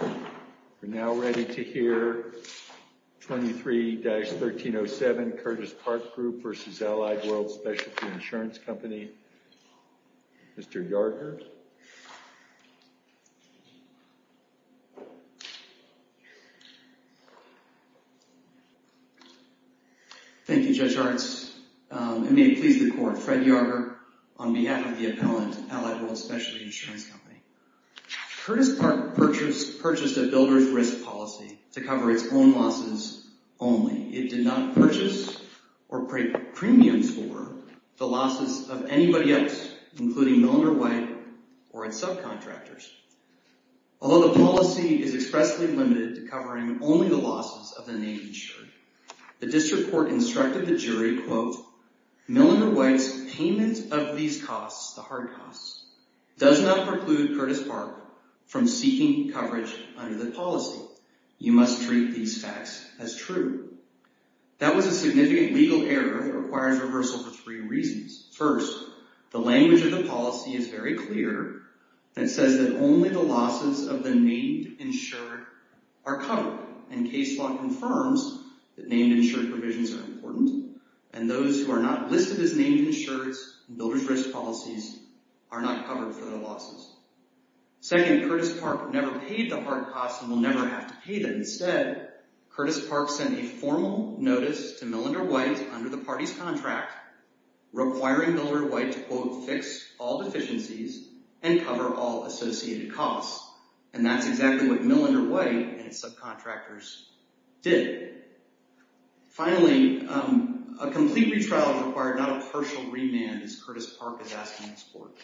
We're now ready to hear 23-1307, Curtis Park Group v. Allied World Specialty Insurance Company. Mr. Yarger. Thank you, Judge Arts. It may please the Court, Fred Yarger on behalf of the appellant, Allied World Specialty Insurance Company. Curtis Park purchased a builder's risk policy to cover its own losses only. It did not purchase or pay premiums for the losses of anybody else, including Milliner White or its subcontractors. Although the policy is expressly limited to covering only the losses of the name insured, the District Court instructed the jury, quote, does not preclude Curtis Park from seeking coverage under the policy. You must treat these facts as true. That was a significant legal error that requires reversal for three reasons. First, the language of the policy is very clear and says that only the losses of the name insured are covered and case law confirms that name insured provisions are important and those who are not listed as name insureds in builder's risk policies are not covered for the losses. Second, Curtis Park never paid the hard costs and will never have to pay them. Instead, Curtis Park sent a formal notice to Milliner White under the party's contract requiring Miller White to, quote, fix all deficiencies and cover all associated costs. And that's exactly what Milliner White and its subcontractors did. Finally, a complete retrial required not a partial remand, as Curtis Park is asking this court,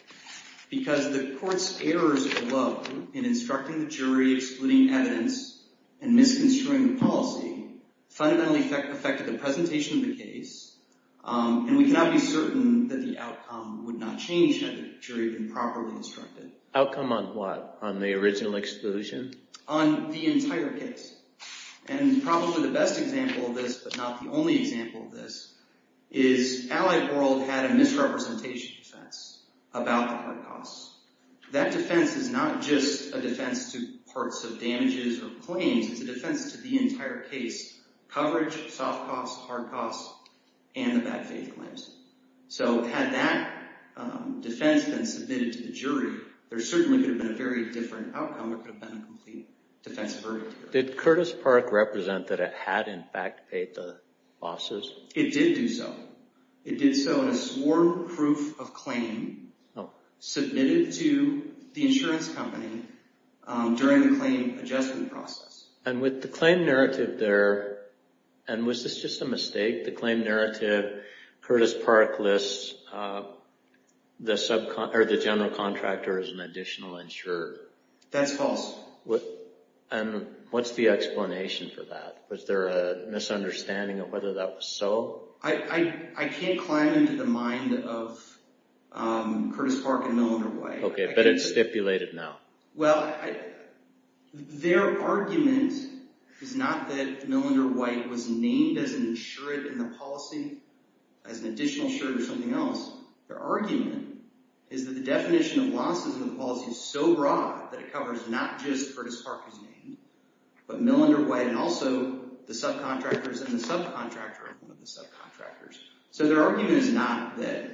because the court's errors alone in instructing the jury, excluding evidence, and misconstruing the policy fundamentally affected the presentation of the case. And we cannot be certain that the outcome would not change had the jury been properly instructed. Outcome on what? On the original exclusion? On the entire case. And probably the best example of this, but not the only example of this, is Allied World had a misrepresentation defense about the hard costs. That defense is not just a defense to parts of damages or claims, it's a defense to the entire case, coverage, soft costs, hard costs, and the bad faith claims. So had that defense been submitted to the jury, there certainly could have been a very different outcome. It could have been a complete defense of hereditary. Did Curtis Park represent that it had in fact paid the losses? It did do so. It did so in a sworn proof of claim submitted to the insurance company during the claim adjustment process. And with the claim narrative there, and was this just a mistake? The claim narrative, Curtis Park lists the general contractor as an additional insurer. That's false. And what's the explanation for that? Was there a misunderstanding of whether that was so? I can't climb into the mind of Curtis Park and Millinder White. Okay, but it's stipulated now. Well, their argument is not that Millinder White is an insurer in the policy, as an additional insurer or something else. Their argument is that the definition of losses in the policy is so broad that it covers not just Curtis Park as named, but Millinder White and also the subcontractors and the subcontractor of one of the subcontractors. So their argument is not that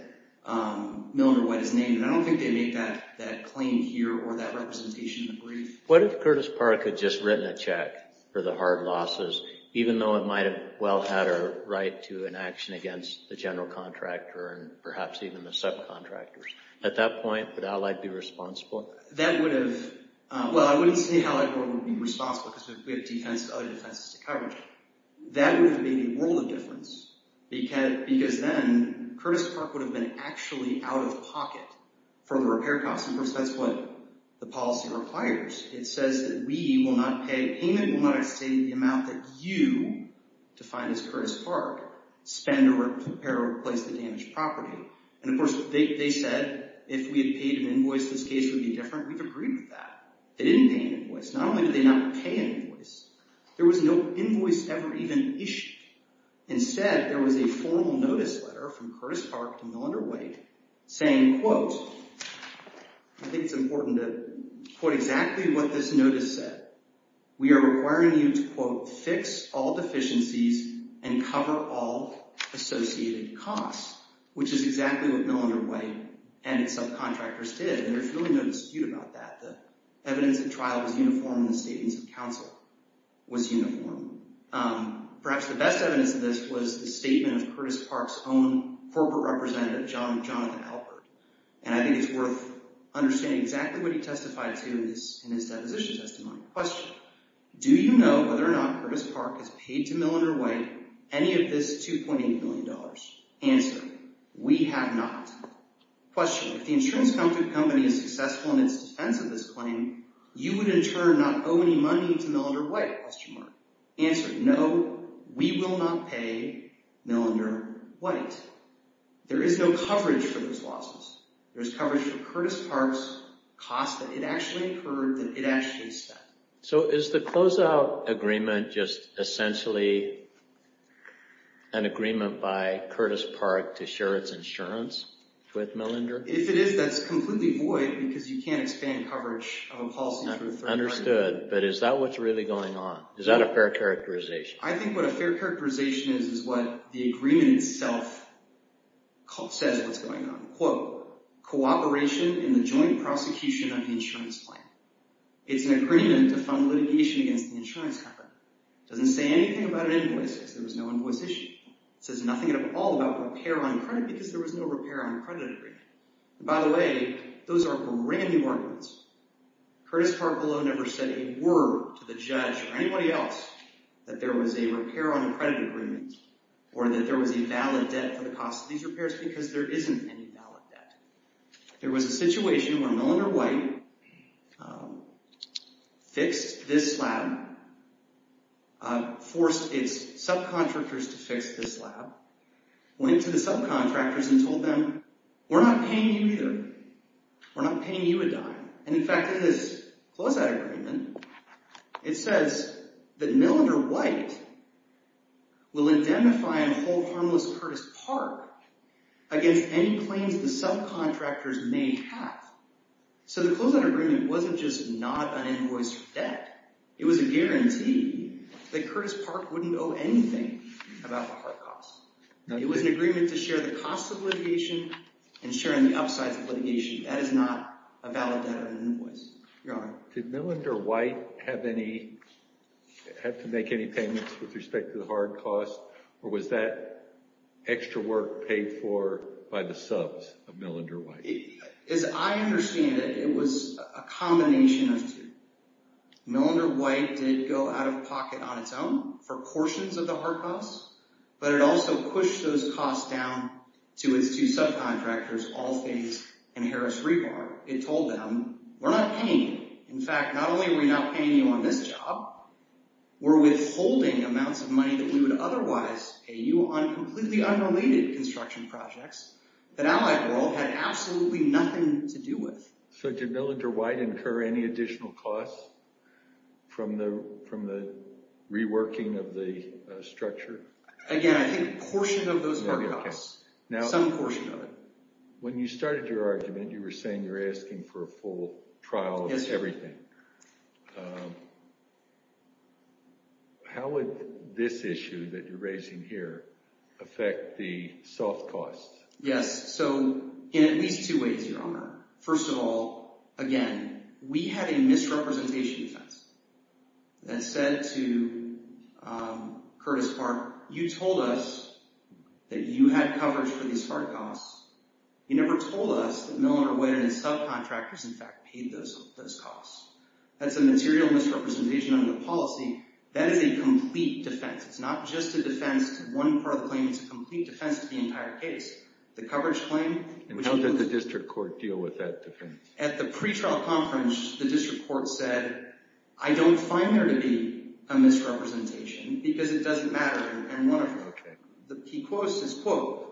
Millinder White is named. And I don't think they make that claim here or that representation in the brief. What if Curtis Park had just written a check for the hard losses, even though it might have well had a right to an action against the general contractor and perhaps even the subcontractors? At that point, would Allied be responsible? That would have, well, I wouldn't say Allied would be responsible because we have defense and other defenses to coverage. That would have made a world of difference because then Curtis Park would have been actually out of pocket for the repair costs. And that's what the policy requires. It says that we will not pay, payment will not exceed the amount that you, defined as Curtis Park, spend or repair or replace the damaged property. And of course, they said if we had paid an invoice, this case would be different. We've agreed with that. They didn't pay an invoice. Not only did they not pay an invoice, there was no invoice ever even issued. Instead, there was a formal notice letter from Curtis Park to Millender-White saying, quote, I think it's important to quote exactly what this notice said. We are requiring you to, quote, fix all deficiencies and cover all associated costs, which is exactly what Millender-White and its subcontractors did. And there's really no dispute about that. The evidence of trial was uniform and the statements of counsel was uniform. Perhaps the best evidence of this was the statement of Curtis Park's own corporate representative, Jonathan Alpert. And I think it's worth understanding exactly what he testified to in his deposition testimony. Question, do you know whether or not Curtis Park has paid to Millender-White any of this $2.8 million? Answer, we have not. Question, if the insurance company is successful in its defense of this claim, you would in turn not owe any money to Millender-White? Answer, no, we will not pay Millender-White. There is no coverage for those losses. There's coverage for Curtis Park's costs that it actually incurred, that it actually spent. So is the closeout agreement just essentially an agreement by Curtis Park to share its insurance with Millender? If it is, that's completely void because you can't expand coverage of a policy through a third party. Understood. But is that what's really going on? Is that a fair characterization? I think what a fair agreement in itself says what's going on. Quote, cooperation in the joint prosecution of the insurance plan. It's an agreement to fund litigation against the insurance company. It doesn't say anything about an invoice because there was no invoice issue. It says nothing at all about repair on credit because there was no repair on credit agreement. And by the way, those are brand new arguments. Curtis Park below never said a word to the judge or anybody else that there was a repair on credit agreement or that there was a valid debt for the cost of these repairs because there isn't any valid debt. There was a situation where Millender-White fixed this slab, forced its subcontractors to fix this slab, went to the subcontractors and told them, we're not paying you either. We're not paying you to die. And in fact, in this closeout agreement, it says that Millender-White will indemnify and hold harmless Curtis Park against any claims the subcontractors may have. So the closeout agreement wasn't just not an invoice debt. It was a guarantee that Curtis Park wouldn't owe anything about the cost. It was an agreement to share the cost of litigation and share in the upsides of litigation. That is not a valid debt of an invoice, Your Honor. Did Millender-White have to make any payments with respect to the hard costs or was that extra work paid for by the subs of Millender-White? As I understand it, it was a combination of two. Millender-White did go out of pocket on its own for portions of the hard costs, but it also pushed those costs down to its two subcontractors, All Things and Harris-Rebar. It told them, we're not paying you. In fact, not only are we not paying you on this job, we're withholding amounts of money that we would otherwise pay you on completely unrelated construction projects that Allied World had absolutely nothing to do with. So did Millender-White incur any additional costs from the reworking of the structure? Again, I think a portion of those hard costs. Some portion of it. When you started your argument, you were saying you were asking for a full trial of everything. Yes, sir. How would this issue that you're raising here affect the soft costs? Yes. So in at least two ways, Your Honor. First of all, again, we had a misrepresentation defense that said to Curtis Park, you told us that you had coverage for these hard costs. You never told us that Millender-White and his subcontractors, in fact, paid those costs. That's a material misrepresentation under the policy. That is a complete defense. It's not just a defense to one part of the claim. It's a complete defense to the entire case. The coverage claim... And how did the district court deal with that defense? At the pretrial conference, the district court said, I don't find there to be a misrepresentation because it doesn't matter in any one of them. Okay. He quotes his quote,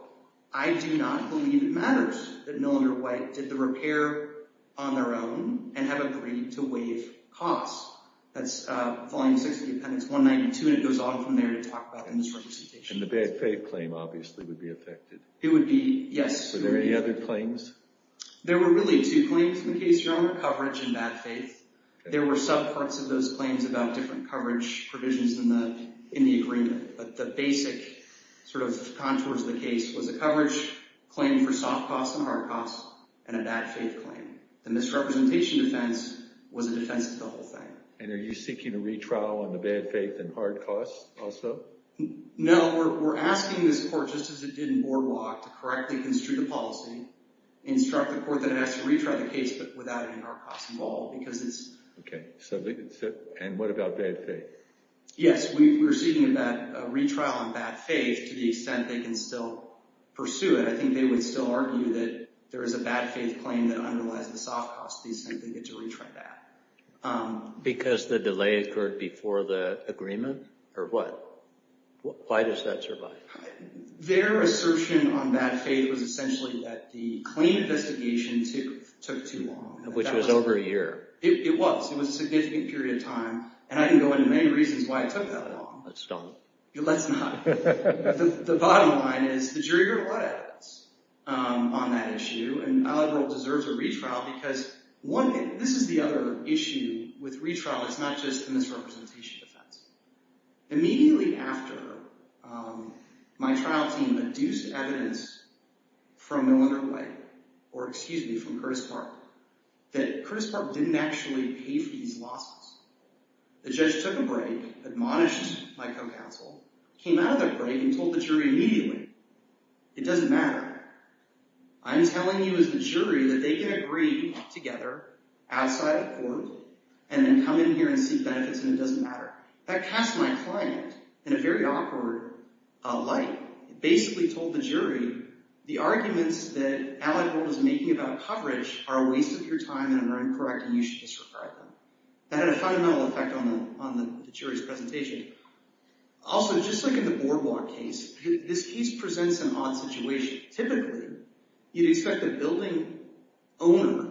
I do not believe it matters that Millender-White did the repair on their own and have agreed to waive costs. That's volume 6 of the appendix 192, and it goes on from there to talk about misrepresentation. And the bad faith claim obviously would be affected. It would be, yes. Were there any other claims? There were really two claims in the case, Your Honor, coverage and bad faith. There were subparts of those claims about different coverage provisions in the agreement. But the basic sort of contours of the case was a coverage claim for soft costs and hard costs and a bad faith claim. The misrepresentation defense was a defense to the whole thing. And are you seeking a retrial on the bad faith and hard costs also? No. We're asking this court, just as it did in Boardwalk, to correctly construe the policy, instruct the court that it has to retry the case but without any hard costs involved because it's... Okay. And what about bad faith? Yes. We're seeking a retrial on bad faith to the extent they can still pursue it. I think they would still argue that there is a bad faith claim that underlies the soft costs. They simply get to retry that. Because the delay occurred before the agreement or what? Why does that survive? Their assertion on bad faith was essentially that the claim investigation took too long. Which was over a year. It was. It was a significant period of time. And I can go into many reasons why it took that long. Let's not. Let's not. The bottom line is the jury heard a lot of evidence on that issue. And my liberal deserves a retrial because one... This is the other issue with retrial. It's not just a misrepresentation defense. Immediately after, my trial team adduced evidence from Millinger White, or excuse me, from Curtis Park, that Curtis Park didn't actually pay for these losses. The judge took a break, admonished my co-counsel, came out of the break and told the jury immediately, it doesn't matter. I'm telling you as the jury that they can agree together, outside the court, and then come in here and seek benefits and it doesn't matter. That cast my client in a very awkward light. It basically told the jury, the arguments that Allied World is making about coverage are a waste of your time and are incorrect and you should disregard them. That had a fundamental effect on the jury's presentation. Also, just like in the Boardwalk case, this case presents an odd situation. Typically, you'd expect the building owner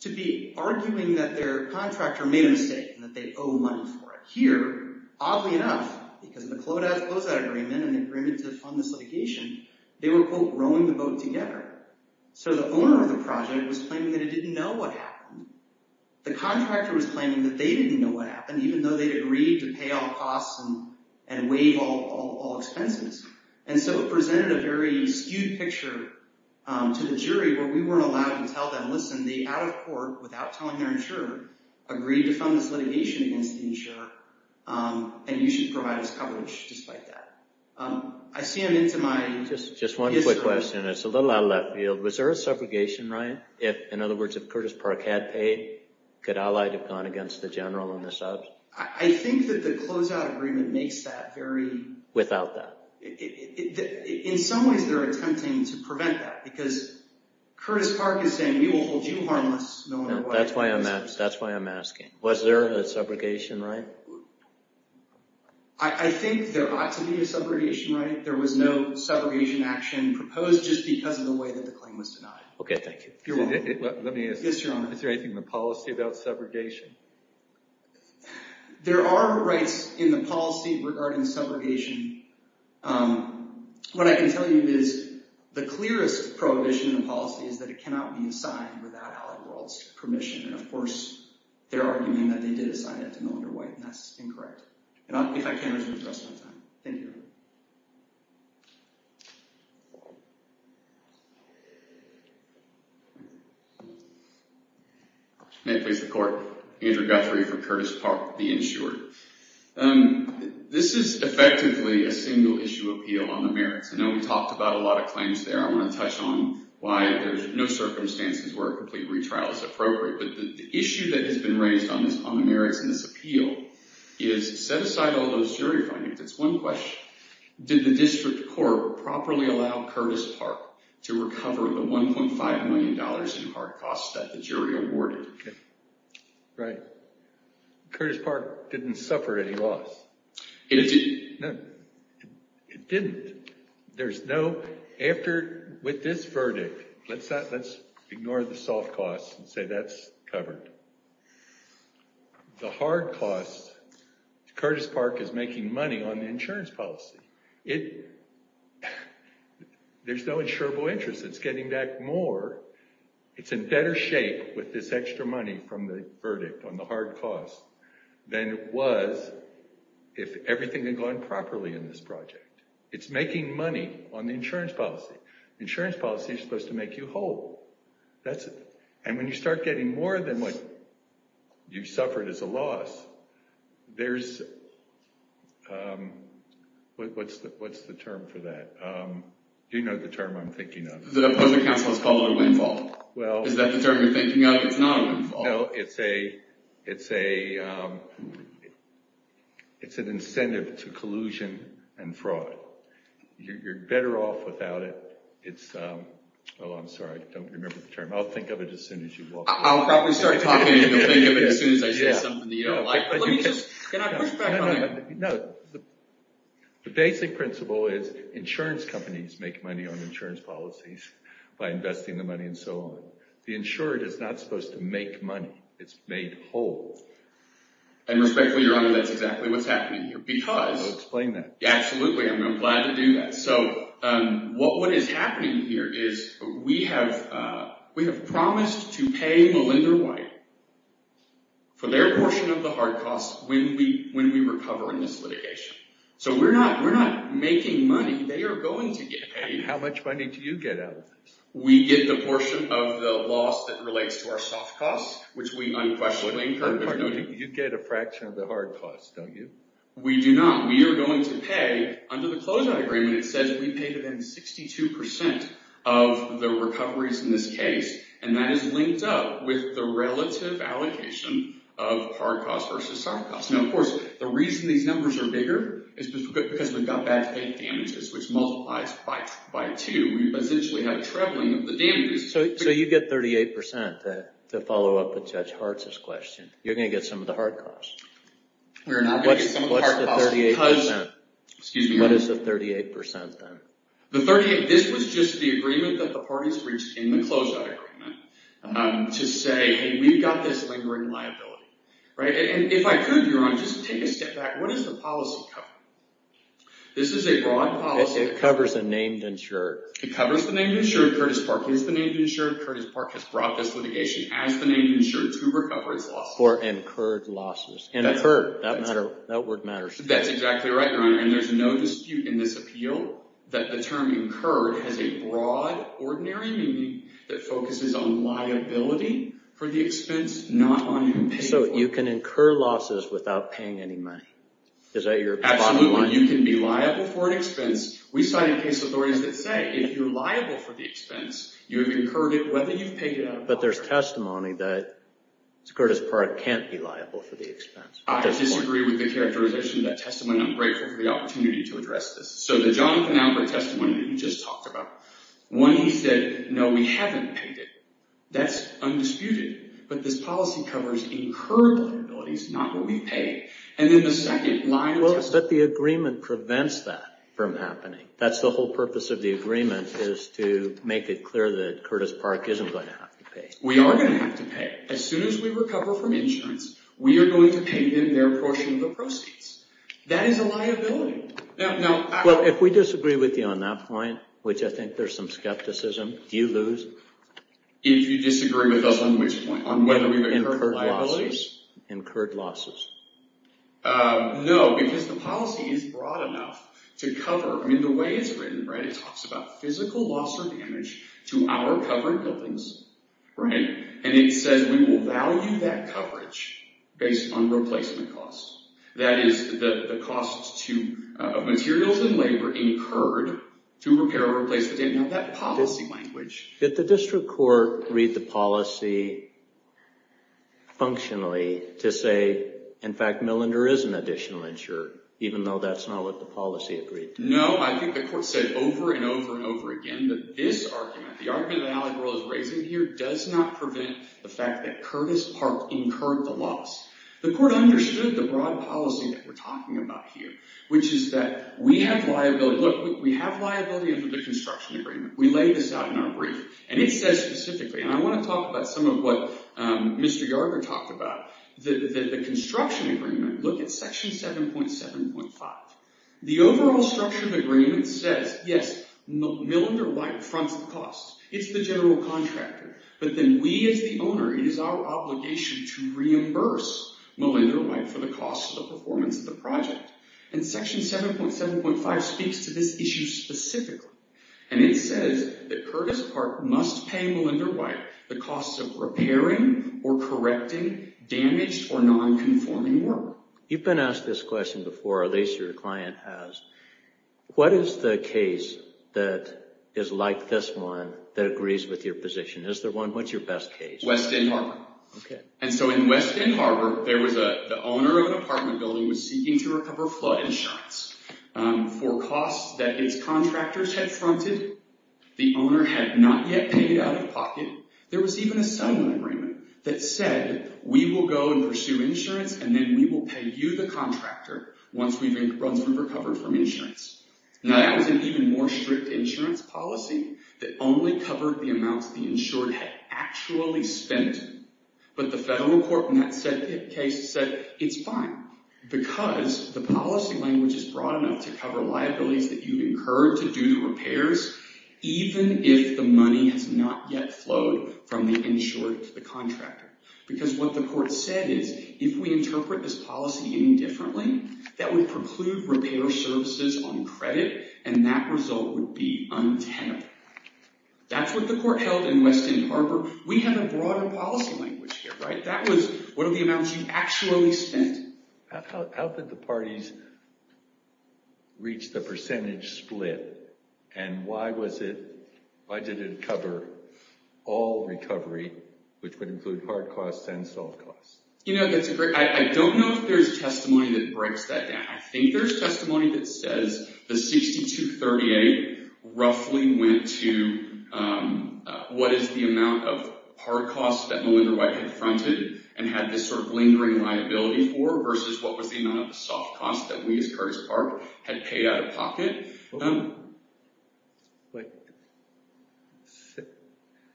to be arguing that their contractor made a mistake and that they owe money for it. Here, oddly enough, because of the CLOSAD agreement and the agreement to fund this litigation, they were, quote, rowing the boat together. So the owner of the project was claiming that he didn't know what happened. The contractor was claiming that they didn't know what happened, even though they'd agreed to pay all costs and waive all expenses. So it presented a very skewed picture to the jury where we weren't allowed to tell them, listen, they, out of court, without telling their insurer, agreed to fund this litigation against the insurer and you should provide us coverage despite that. I see him into my... Just one quick question. It's a little out of left field. Was there a subrogation right? In other words, if Curtis Park had paid, could Allied have gone against the general and the subs? I think that the CLOSAD agreement makes that very... Without that. In some ways, they're attempting to prevent that because Curtis Park is saying, we will hold you harmless no matter what. That's why I'm asking. Was there a subrogation right? I think there ought to be a subrogation right. There was no subrogation action proposed just because of the way that the claim was denied. Okay, thank you. Is there anything in the policy about subrogation? There are rights in the policy regarding subrogation. What I can tell you is the clearest prohibition in the policy is that it cannot be signed without Allied World's permission. And of course, they're arguing that they did assign it to Mildred White and that's incorrect. If I can, I will address that. Thank you. May it please the court. Andrew Guthrie for Curtis Park, the insured. This is effectively a single issue appeal on the merits. I know we talked about a lot of claims there. I want to touch on why there's no circumstances where a complete retrial is appropriate. But the issue that has been raised on the merits in this appeal is set aside all those jury findings. It's one question. Did the district court properly allow Curtis Park to recover the $1.5 million in hard costs that the jury awarded? Right. Curtis Park didn't suffer any loss. It didn't. With this verdict, let's ignore the soft costs and say that's covered. The hard costs, Curtis Park is making money on the insurance policy. There's no insurable interest. It's getting back more. It's in better shape with this extra money from the verdict on the hard costs than it was if everything had gone properly in this project. It's making money on the insurance policy. The insurance policy is supposed to make you whole. And when you start getting more than what you suffered as a loss, there's... What's the term for that? Do you know the term I'm thinking of? The opposing counsel has called it a windfall. Is that the term you're thinking of? It's not a windfall. No, it's an incentive to collusion and fraud. You're better off without it. Oh, I'm sorry. I don't remember the term. I'll think of it as soon as you walk in. I'll probably start talking and you'll think of it as soon as I say something you don't like. Can I push back on it? The basic principle is insurance companies make money on insurance policies by investing the money and so on. The insurer is not supposed to make money. It's made whole. And respectfully, Your Honor, that's exactly what's happening here because... I'll explain that. Absolutely. I'm glad to do that. So what is happening here is we have promised to pay Melinda White for their portion of the hard costs when we recover in this litigation. So we're not making money. They are going to get paid. How much money do you get out of this? We get the portion of the loss that relates to our soft costs, which we unquestionably incur. You get a fraction of the hard costs, don't you? We do not. We are going to pay, under the closeout agreement, it says we paid them 62% of the recoveries in this case. And that is linked up with the relative allocation of hard costs versus soft costs. Now, of course, the reason these numbers are bigger is because we've got bad faith damages, which multiplies by two. We essentially have a trebling of the damages. So you get 38% to follow up with Judge Hartz's question. You're going to get some of the hard costs. We are not going to get some of the hard costs because... What's the 38%? Excuse me, Your Honor. What is the 38% then? This was just the agreement that the parties reached in the closeout agreement to say, hey, we've got this lingering liability. And if I could, Your Honor, just take a step back. What does the policy cover? This is a broad policy... It covers the named insured. It covers the named insured. Curtis Park is the named insured. Curtis Park has brought this litigation as the named insured to recover its losses. For incurred losses. Incurred. That word matters. That's exactly right, Your Honor. And there's no dispute in this appeal that the term incurred has a broad, ordinary meaning that focuses on liability for the expense, not on paying for it. So you can incur losses without paying any money? Is that your bottom line? Absolutely. You can be liable for an expense. We cited case authorities that say if you're liable for the expense, you have incurred it whether you've paid it out of pocket. But there's testimony that Curtis Park can't be liable for the expense. I disagree with the characterization of that testimony. I'm grateful for the opportunity to address this. So the Jonathan Alpert testimony that you just talked about, when he said, no, we haven't paid it, that's undisputed. But this policy covers incurred liabilities, not what we've paid. But the agreement prevents that from happening. That's the whole purpose of the agreement is to make it clear that Curtis Park isn't going to have to pay. We are going to have to pay it. As soon as we recover from insurance, we are going to pay them their portion of the proceeds. That is a liability. Well, if we disagree with you on that point, which I think there's some skepticism, do you lose? If you disagree with us on which point? On whether we've incurred liabilities? Incurred losses. No, because the policy is broad enough to cover. I mean, the way it's written, right, it talks about physical loss or damage to our covered buildings, right? And it says we will value that coverage based on replacement costs. That is the costs of materials and labor incurred to repair or replace the damage. Now, that policy language. Did the district court read the policy functionally to say, in fact, Millinder is an additional insurer, even though that's not what the policy agreed to? No, I think the court said over and over and over again that this argument, the argument that Allie Burrell is raising here, does not prevent the fact that Curtis Park incurred the loss. The court understood the broad policy that we're talking about here, which is that we have liability. Look, we have liability under the construction agreement. We lay this out in our brief. And it says specifically, and I want to talk about some of what Mr. Yarger talked about, the construction agreement, look at section 7.7.5. The overall structure of the agreement says, yes, Millinder White fronts the costs. It's the general contractor. But then we as the owner, it is our obligation to reimburse Millinder White for the costs of the performance of the project. And section 7.7.5 speaks to this issue specifically. And it says that Curtis Park must pay Millinder White the costs of repairing or correcting damaged or non-conforming work. You've been asked this question before, or at least your client has. What is the case that is like this one that agrees with your position? Is there one? What's your best case? West End Harbor. And so in West End Harbor, the owner of an apartment building was seeking to recover flood insurance for costs that its contractors had fronted. The owner had not yet paid out of pocket. There was even a signing agreement that said, we will go and pursue insurance, and then we will pay you, the contractor, once we've recovered from insurance. Now, that was an even more strict insurance policy that only covered the amounts the insured had actually spent. But the federal court in that case said, it's fine. Because the policy language is broad enough to cover liabilities that you incurred to do the repairs, even if the money has not yet flowed from the insured to the contractor. Because what the court said is, if we interpret this policy any differently, that would preclude repair services on credit, and that result would be untenable. That's what the court held in West End Harbor. We have a broader policy language here, right? That was one of the amounts you actually spent. How did the parties reach the percentage split? And why did it cover all recovery, which would include hard costs and soft costs? You know, I don't know if there's testimony that breaks that down. I think there's testimony that says the 6238 roughly went to, what is the amount of hard costs that Melinda White had fronted, and had this sort of lingering liability for, versus what was the amount of the soft costs that we as Curtis Park had paid out of pocket.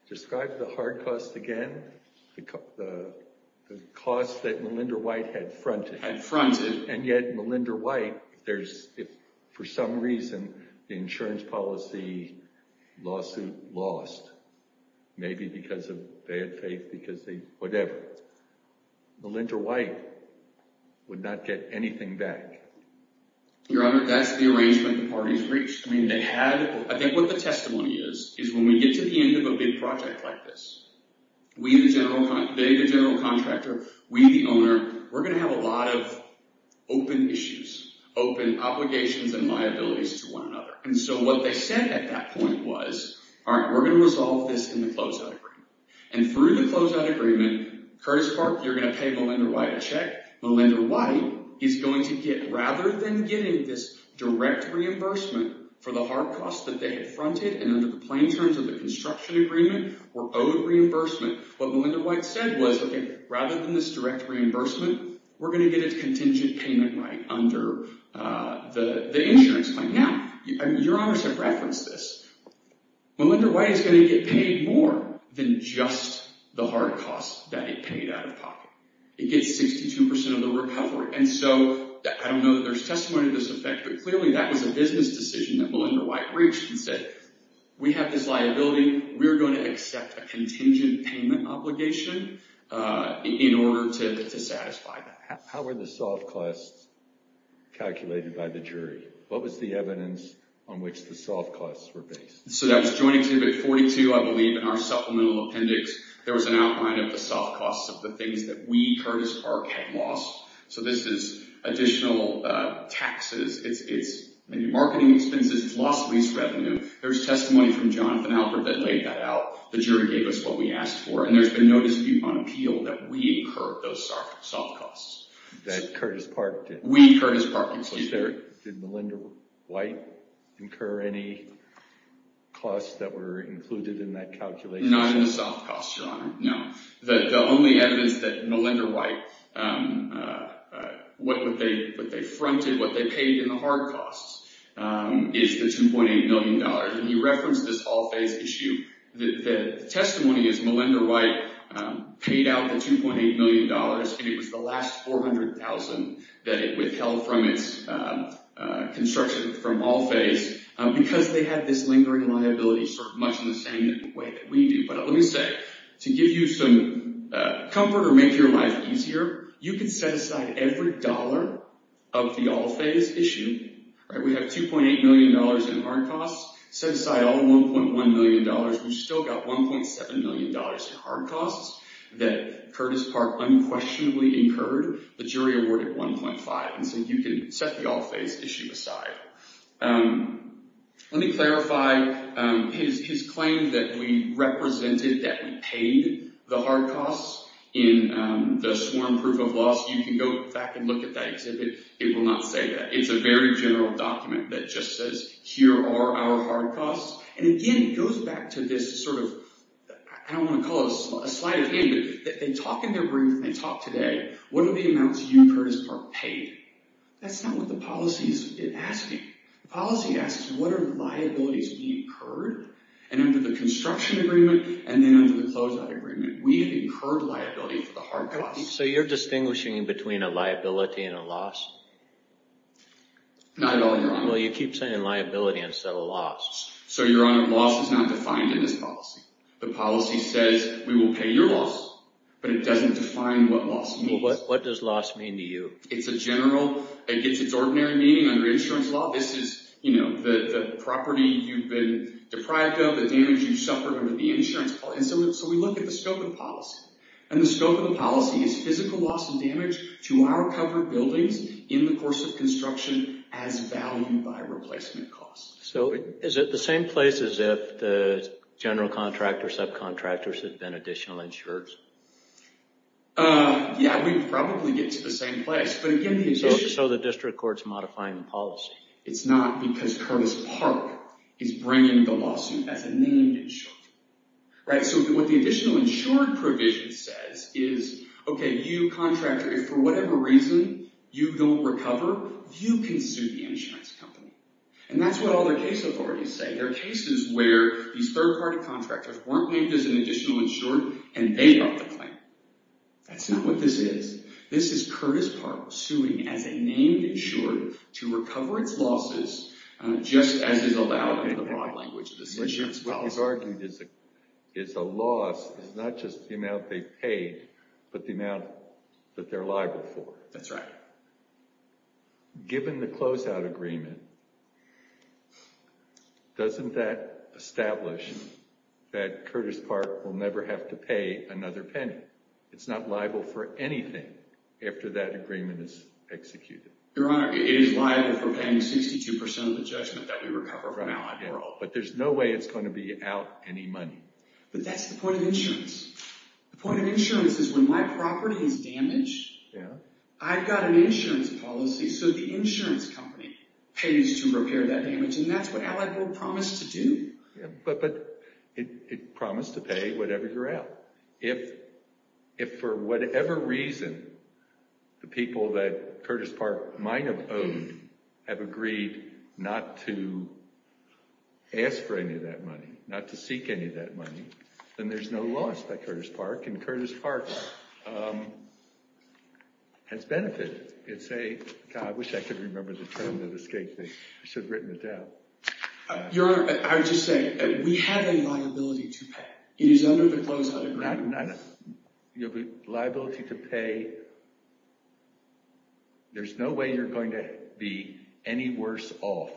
Describe the hard costs again. The costs that Melinda White had fronted. Had fronted. And yet Melinda White, if for some reason the insurance policy lawsuit lost, maybe because of bad faith, because of whatever, Melinda White would not get anything back. Your Honor, that's the arrangement the parties reached. I think what the testimony is, is when we get to the end of a big project like this, they the general contractor, we the owner, we're going to have a lot of open issues, open obligations and liabilities to one another. And so what they said at that point was, all right, we're going to resolve this in the closeout agreement. And through the closeout agreement, Curtis Park, you're going to pay Melinda White a check. Melinda White is going to get, rather than getting this direct reimbursement for the hard costs that they had fronted, and under the plain terms of the construction agreement, we're owed reimbursement. What Melinda White said was, okay, rather than this direct reimbursement, we're going to get a contingent payment right under the insurance claim. Now, Your Honor should reference this. Melinda White is going to get paid more than just the hard costs that it paid out of pocket. It gets 62% of the recovery. And so I don't know that there's testimony to this effect, but clearly that was a business decision that Melinda White reached and said, we have this liability. We're going to accept a contingent payment obligation in order to satisfy that. How were the soft costs calculated by the jury? What was the evidence on which the soft costs were based? So that's Joint Exhibit 42, I believe, in our supplemental appendix. There was an outline of the soft costs of the things that we, Curtis Park, had lost. So this is additional taxes. It's marketing expenses. It's lost lease revenue. There's testimony from Jonathan Alpert that laid that out. The jury gave us what we asked for. And there's been no dispute on appeal that we incurred those soft costs. That Curtis Park did? We, Curtis Park, included. Did Melinda White incur any costs that were included in that calculation? Not in the soft costs, Your Honor, no. The only evidence that Melinda White, what they fronted, what they paid in the hard costs is the $2.8 million. And you referenced this all phase issue. The testimony is Melinda White paid out the $2.8 million, and it was the last $400,000 that it withheld from its construction from all phase because they had this lingering liability sort of much in the same way that we do. But let me say, to give you some comfort or make your life easier, you can set aside every dollar of the all phase issue. We have $2.8 million in hard costs. Set aside all $1.1 million. We've still got $1.7 million in hard costs that Curtis Park unquestionably incurred. The jury awarded 1.5. And so you can set the all phase issue aside. Let me clarify. His claim that we represented, that we paid the hard costs in the sworn proof of loss, you can go back and look at that exhibit. It will not say that. It's a very general document that just says, here are our hard costs. And again, it goes back to this sort of, I don't want to call it a slight of hand, but they talk in their brief, they talk today. What are the amounts you, Curtis Park, paid? That's not what the policy is asking. The policy asks, what are the liabilities we incurred? And under the construction agreement and then under the closeout agreement, we incurred liability for the hard costs. So you're distinguishing between a liability and a loss? Not at all, Your Honor. Well, you keep saying liability instead of loss. So, Your Honor, loss is not defined in this policy. The policy says, we will pay your loss, but it doesn't define what loss means. Well, what does loss mean to you? It's a general, it gets its ordinary meaning under insurance law. This is, you know, the property you've been deprived of, the damage you've suffered under the insurance policy. So we look at the scope of the policy. And the scope of the policy is physical loss and damage to our covered buildings in the course of construction as valued by replacement costs. So, is it the same place as if the general contractors, subcontractors, had been additional insurers? Yeah, we'd probably get to the same place. So the district court's modifying the policy. It's not because Curtis Park is bringing the lawsuit as a named insurer. So what the additional insurer provision says is, okay, you contractor, if for whatever reason you don't recover, you can sue the insurance company. And that's what all the case authorities say. There are cases where these third-party contractors weren't named as an additional insurer and they got the claim. That's not what this is. This is Curtis Park suing as a named insurer to recover its losses just as is allowed in the broad language of this insurance policy. What is argued is a loss is not just the amount they've paid, but the amount that they're liable for. That's right. Given the closeout agreement, doesn't that establish that Curtis Park will never have to pay another penny? It's not liable for anything after that agreement is executed. Your Honor, it is liable for paying 62% of the judgment that we recover from now on. But there's no way it's going to be out any money. But that's the point of insurance. The point of insurance is when my property is damaged, I've got an insurance policy, so the insurance company pays to repair that damage, and that's what Allied Gold promised to do. But it promised to pay whatever you're out. If for whatever reason the people that Curtis Park might have owed have agreed not to ask for any of that money, not to seek any of that money, then there's no loss by Curtis Park, and Curtis Park has benefited. I wish I could remember the term that escaped me. I should have written it down. Your Honor, I would just say we have a liability to pay. It is under the closeout agreement. You have a liability to pay. There's no way you're going to be any worse off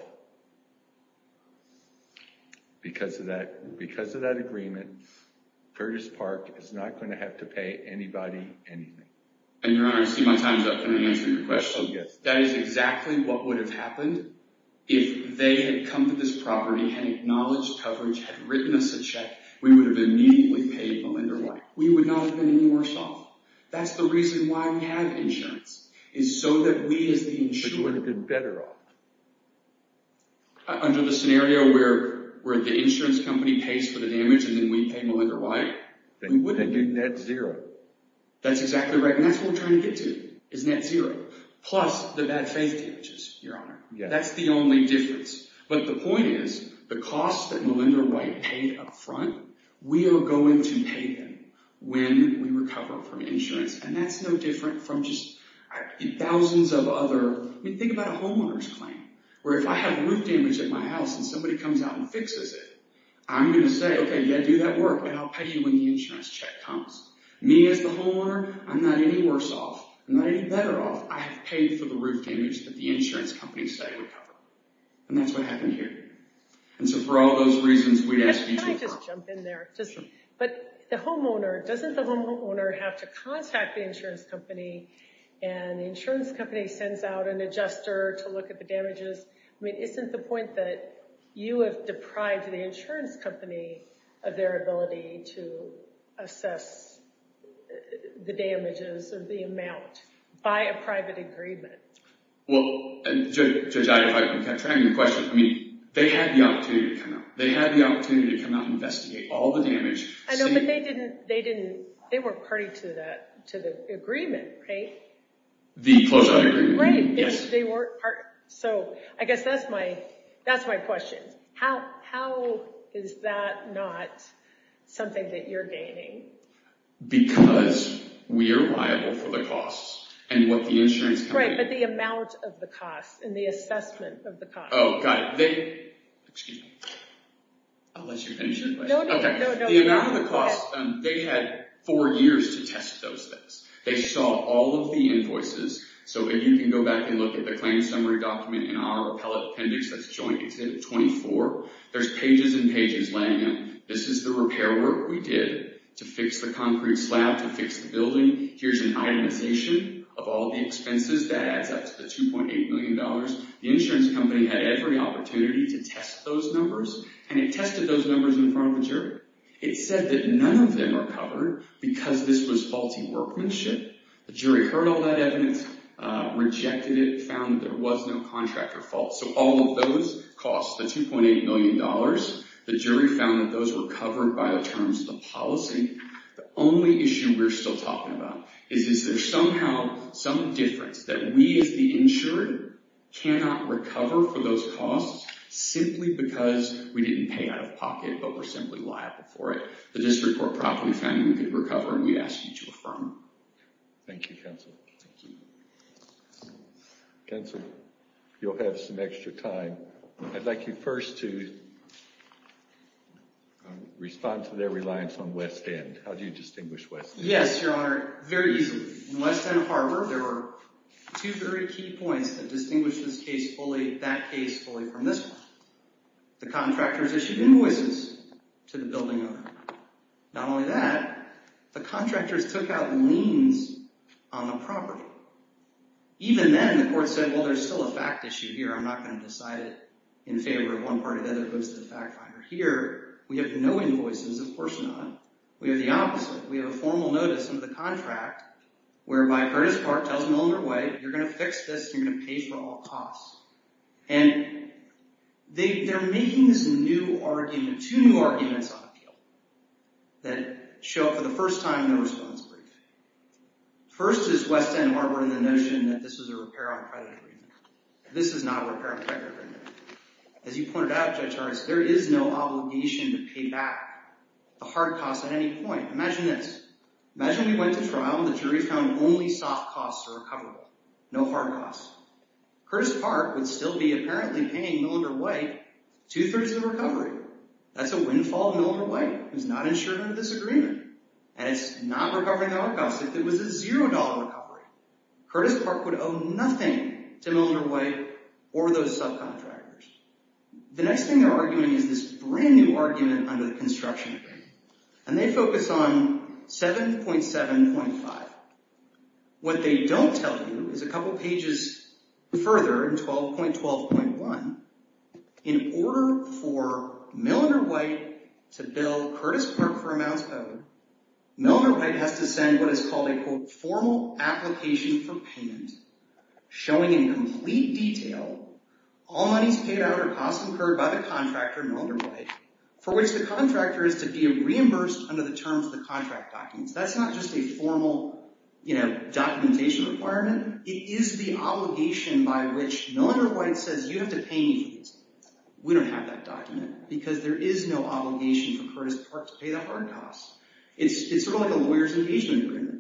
because of that agreement. Curtis Park is not going to have to pay anybody anything. And, Your Honor, I see my time is up. Can I answer your question? Oh, yes. That is exactly what would have happened if they had come to this property and acknowledged coverage, had written us a check, we would have immediately paid Malinder-White. We would not have been any worse off. That's the reason why we have insurance, is so that we as the insurer could better off. Under the scenario where the insurance company pays for the damage and then we pay Malinder-White, we would have been net zero. That's exactly right. And that's what we're trying to get to, is net zero. Plus the bad faith damages, Your Honor. That's the only difference. But the point is, the cost that Malinder-White paid up front, we are going to pay them when we recover from insurance. And that's no different from just thousands of other... I mean, think about a homeowner's claim, where if I have roof damage at my house and somebody comes out and fixes it, I'm going to say, okay, yeah, do that work, and I'll pay you when the insurance check comes. Me as the homeowner, I'm not any worse off. I'm not any better off. I have paid for the roof damage that the insurance company said it would cover. And that's what happened here. And so for all those reasons, we'd ask you to... Can I just jump in there? But the homeowner, doesn't the homeowner have to contact the insurance company and the insurance company sends out an adjuster to look at the damages? I mean, isn't the point that you have deprived the insurance company of their ability to assess the damages of the amount by a private agreement? Well, Judge Ida, if I can continue your question, I mean, they had the opportunity to come out. They had the opportunity to come out and investigate all the damage. I know, but they didn't... They weren't party to the agreement, right? The closeout agreement, yes. Right, they weren't party. So I guess that's my question. How is that not something that you're gaining? Because we are liable for the cost and what the insurance company... Right, but the amount of the cost and the assessment of the cost. Oh, got it. Excuse me. I'll let you finish your question. No, no, no. The amount of the cost, they had four years to test those things. They saw all of the invoices. So if you can go back and look at the claim summary document in our appellate appendix that's joint exhibit 24, there's pages and pages laying out. This is the repair work we did to fix the concrete slab, to fix the building. Here's an itemization of all the expenses. That adds up to the $2.8 million. The insurance company had every opportunity to test those numbers, and it tested those numbers in front of the jury. It said that none of them are covered because this was faulty workmanship. The jury heard all that evidence, rejected it, found there was no contractor fault. So all of those costs, the $2.8 million, the jury found that those were covered by the terms of the policy. The only issue we're still talking about is is there somehow some difference that we as the insured cannot recover for those costs simply because we didn't pay out of pocket, but we're simply liable for it. The district court properly found we could recover, and we ask you to affirm. Thank you, counsel. Thank you. Counsel, you'll have some extra time. I'd like you first to respond to their reliance on West End. How do you distinguish West End? Yes, Your Honor, very easily. In West End Harbor, there were two very key points that distinguish this case fully, that case fully from this one. The contractors issued invoices to the building owner. Not only that, the contractors took out liens on the property. Even then, the court said, well, there's still a fact issue here. I'm not going to decide it in favor of one party or the other. It goes to the fact finder. Here, we have no invoices. Of course not. We have the opposite. We have a formal notice under the contract whereby Curtis Park tells the owner, wait, you're going to fix this. You're going to pay for all costs. And they're making this new argument, two new arguments on appeal that show up for the first time in the response brief. First is West End Harbor and the notion that this is a repair on credit agreement. This is not a repair on credit agreement. As you pointed out, Judge Harris, there is no obligation to pay back the hard costs at any point. Imagine this. Imagine we went to trial and the jury found only soft costs are recoverable, no hard costs. Curtis Park would still be apparently paying Millinder-White two-thirds of the recovery. That's a windfall to Millinder-White who's not insured under this agreement. And it's not recovering the hard costs if it was a $0 recovery. Curtis Park would owe nothing to Millinder-White or those subcontractors. The next thing they're arguing is this brand new argument under the construction agreement. And they focus on 7.7.5. What they don't tell you is a couple pages further in 12.12.1, in order for Millinder-White to bill Curtis Park for amounts owed, Millinder-White has to send what is called a, quote, formal application for payment, showing in complete detail all monies paid out or costs incurred by the contractor, Millinder-White, for which the contractor is to be reimbursed under the terms of the contract documents. That's not just a formal documentation requirement. It is the obligation by which Millinder-White says, you have to pay me for this. We don't have that document because there is no obligation for Curtis Park to pay the hard costs. It's sort of like a lawyer's engagement agreement.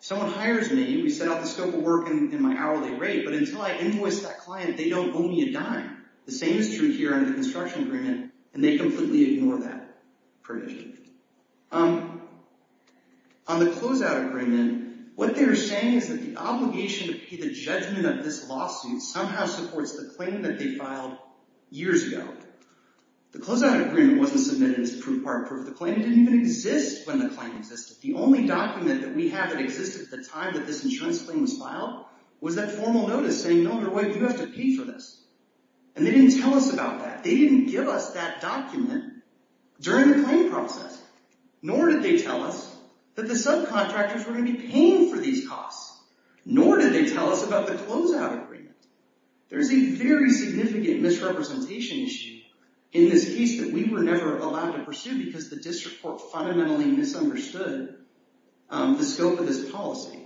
Someone hires me, we set out the scope of work and my hourly rate, but until I invoice that client, they don't owe me a dime. The same is true here under the construction agreement, and they completely ignore that provision. On the closeout agreement, what they are saying is that the obligation to pay the judgment of this lawsuit somehow supports the claim that they filed years ago. The closeout agreement wasn't submitted as proof or approved. The claim didn't even exist when the claim existed. The only document that we have that existed at the time that this insurance claim was filed was that formal notice saying, Millinder-White, you have to pay for this, and they didn't tell us about that. They didn't give us that document during the claim process, nor did they tell us that the subcontractors were going to be paying for these costs, nor did they tell us about the closeout agreement. There is a very significant misrepresentation issue in this case that we were never allowed to pursue because the district court fundamentally misunderstood the scope of this policy.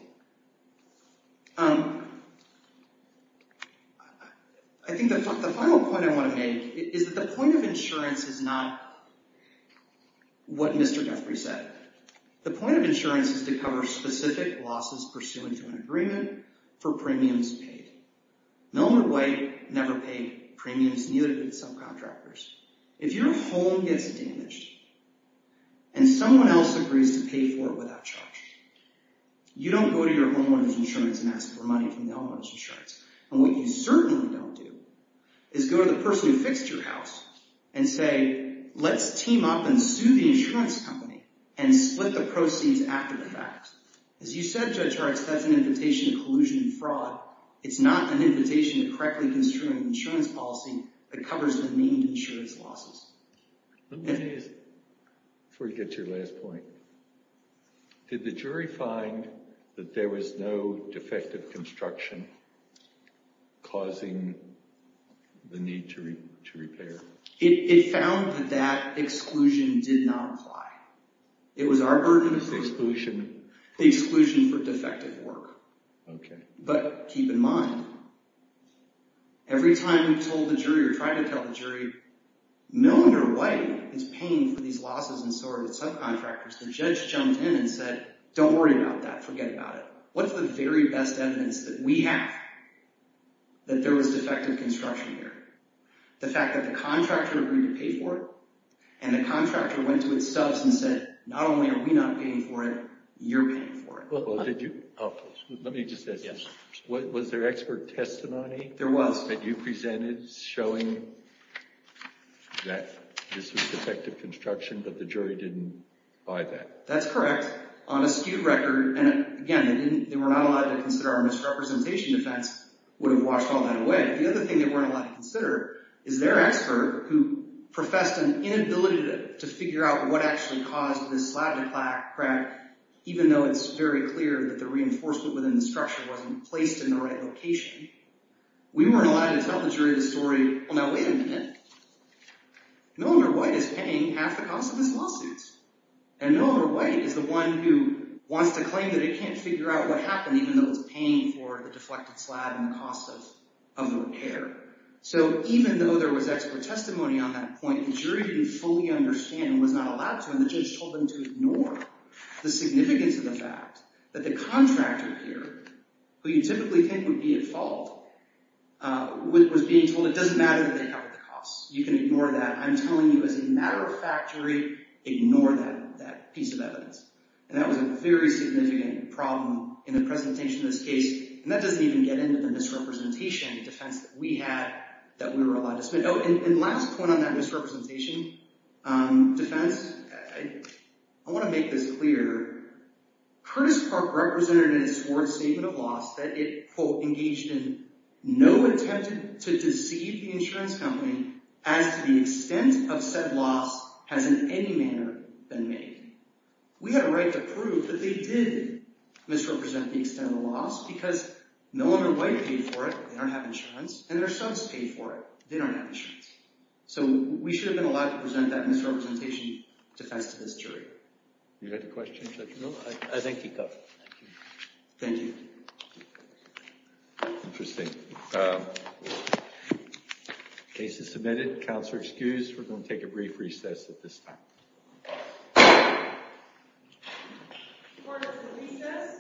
I think the final point I want to make is that the point of insurance is not what Mr. Guthrie said. The point of insurance is to cover specific losses pursuant to an agreement for premiums paid. Millinder-White never paid premiums, neither did subcontractors. If your home gets damaged and someone else agrees to pay for it without charge, you don't go to your homeowner's insurance and ask for money from the homeowner's insurance. What you certainly don't do is go to the person who fixed your house and say, let's team up and sue the insurance company and split the proceeds after the fact. As you said, Judge Hartz, that's an invitation to collusion and fraud. It's not an invitation to correctly construing an insurance policy that covers demeaned insurance losses. Before you get to your last point, did the jury find that there was no defective construction causing the need to repair? It found that that exclusion did not apply. It was our burden. The exclusion? The exclusion for defective work. Okay. But keep in mind, every time we told the jury or tried to tell the jury, Milner-White is paying for these losses and so are the subcontractors. The judge jumped in and said, don't worry about that. Forget about it. What's the very best evidence that we have that there was defective construction here? The fact that the contractor agreed to pay for it and the contractor went to its subs and said, not only are we not paying for it, you're paying for it. Well, did you? Let me just ask you. Was there expert testimony? There was. That you presented showing that this was defective construction, but the jury didn't buy that? That's correct. On a skewed record, and again, they were not allowed to consider our misrepresentation defense would have washed all that away. The other thing they weren't allowed to consider is their expert who professed an inability to figure out what actually caused this slab to crack, even though it's very clear that the reinforcement within the structure wasn't placed in the right location. We weren't allowed to tell the jury the story, well, now wait a minute. Milner-White is paying half the cost of his lawsuits. And Milner-White is the one who wants to claim that it can't figure out what happened, even though it's paying for the deflected slab and the cost of repair. So even though there was expert testimony on that point, the jury didn't fully understand and was not allowed to, and the judge told them to ignore the significance of the fact that the contractor here, who you typically think would be at fault, was being told it doesn't matter that they covered the cost. You can ignore that. I'm telling you as a matter of factuary, ignore that piece of evidence. And that was a very significant problem in the presentation of this case, and that doesn't even get into the misrepresentation defense that we had that we were allowed to submit. Oh, and last point on that misrepresentation defense, I want to make this clear. Curtis Park represented in his sworn statement of loss that it, quote, engaged in no attempt to deceive the insurance company as to the extent of said loss has in any manner been made. We had a right to prove that they did misrepresent the extent of the loss because Milner-White paid for it. They don't have insurance. And their sons paid for it. They don't have insurance. So we should have been allowed to present that misrepresentation defense to this jury. Do you have a question, Judge Milner? I think he does. Thank you. Interesting. Case is submitted. Counselor excused. We're going to take a brief recess at this time. Court is in recess.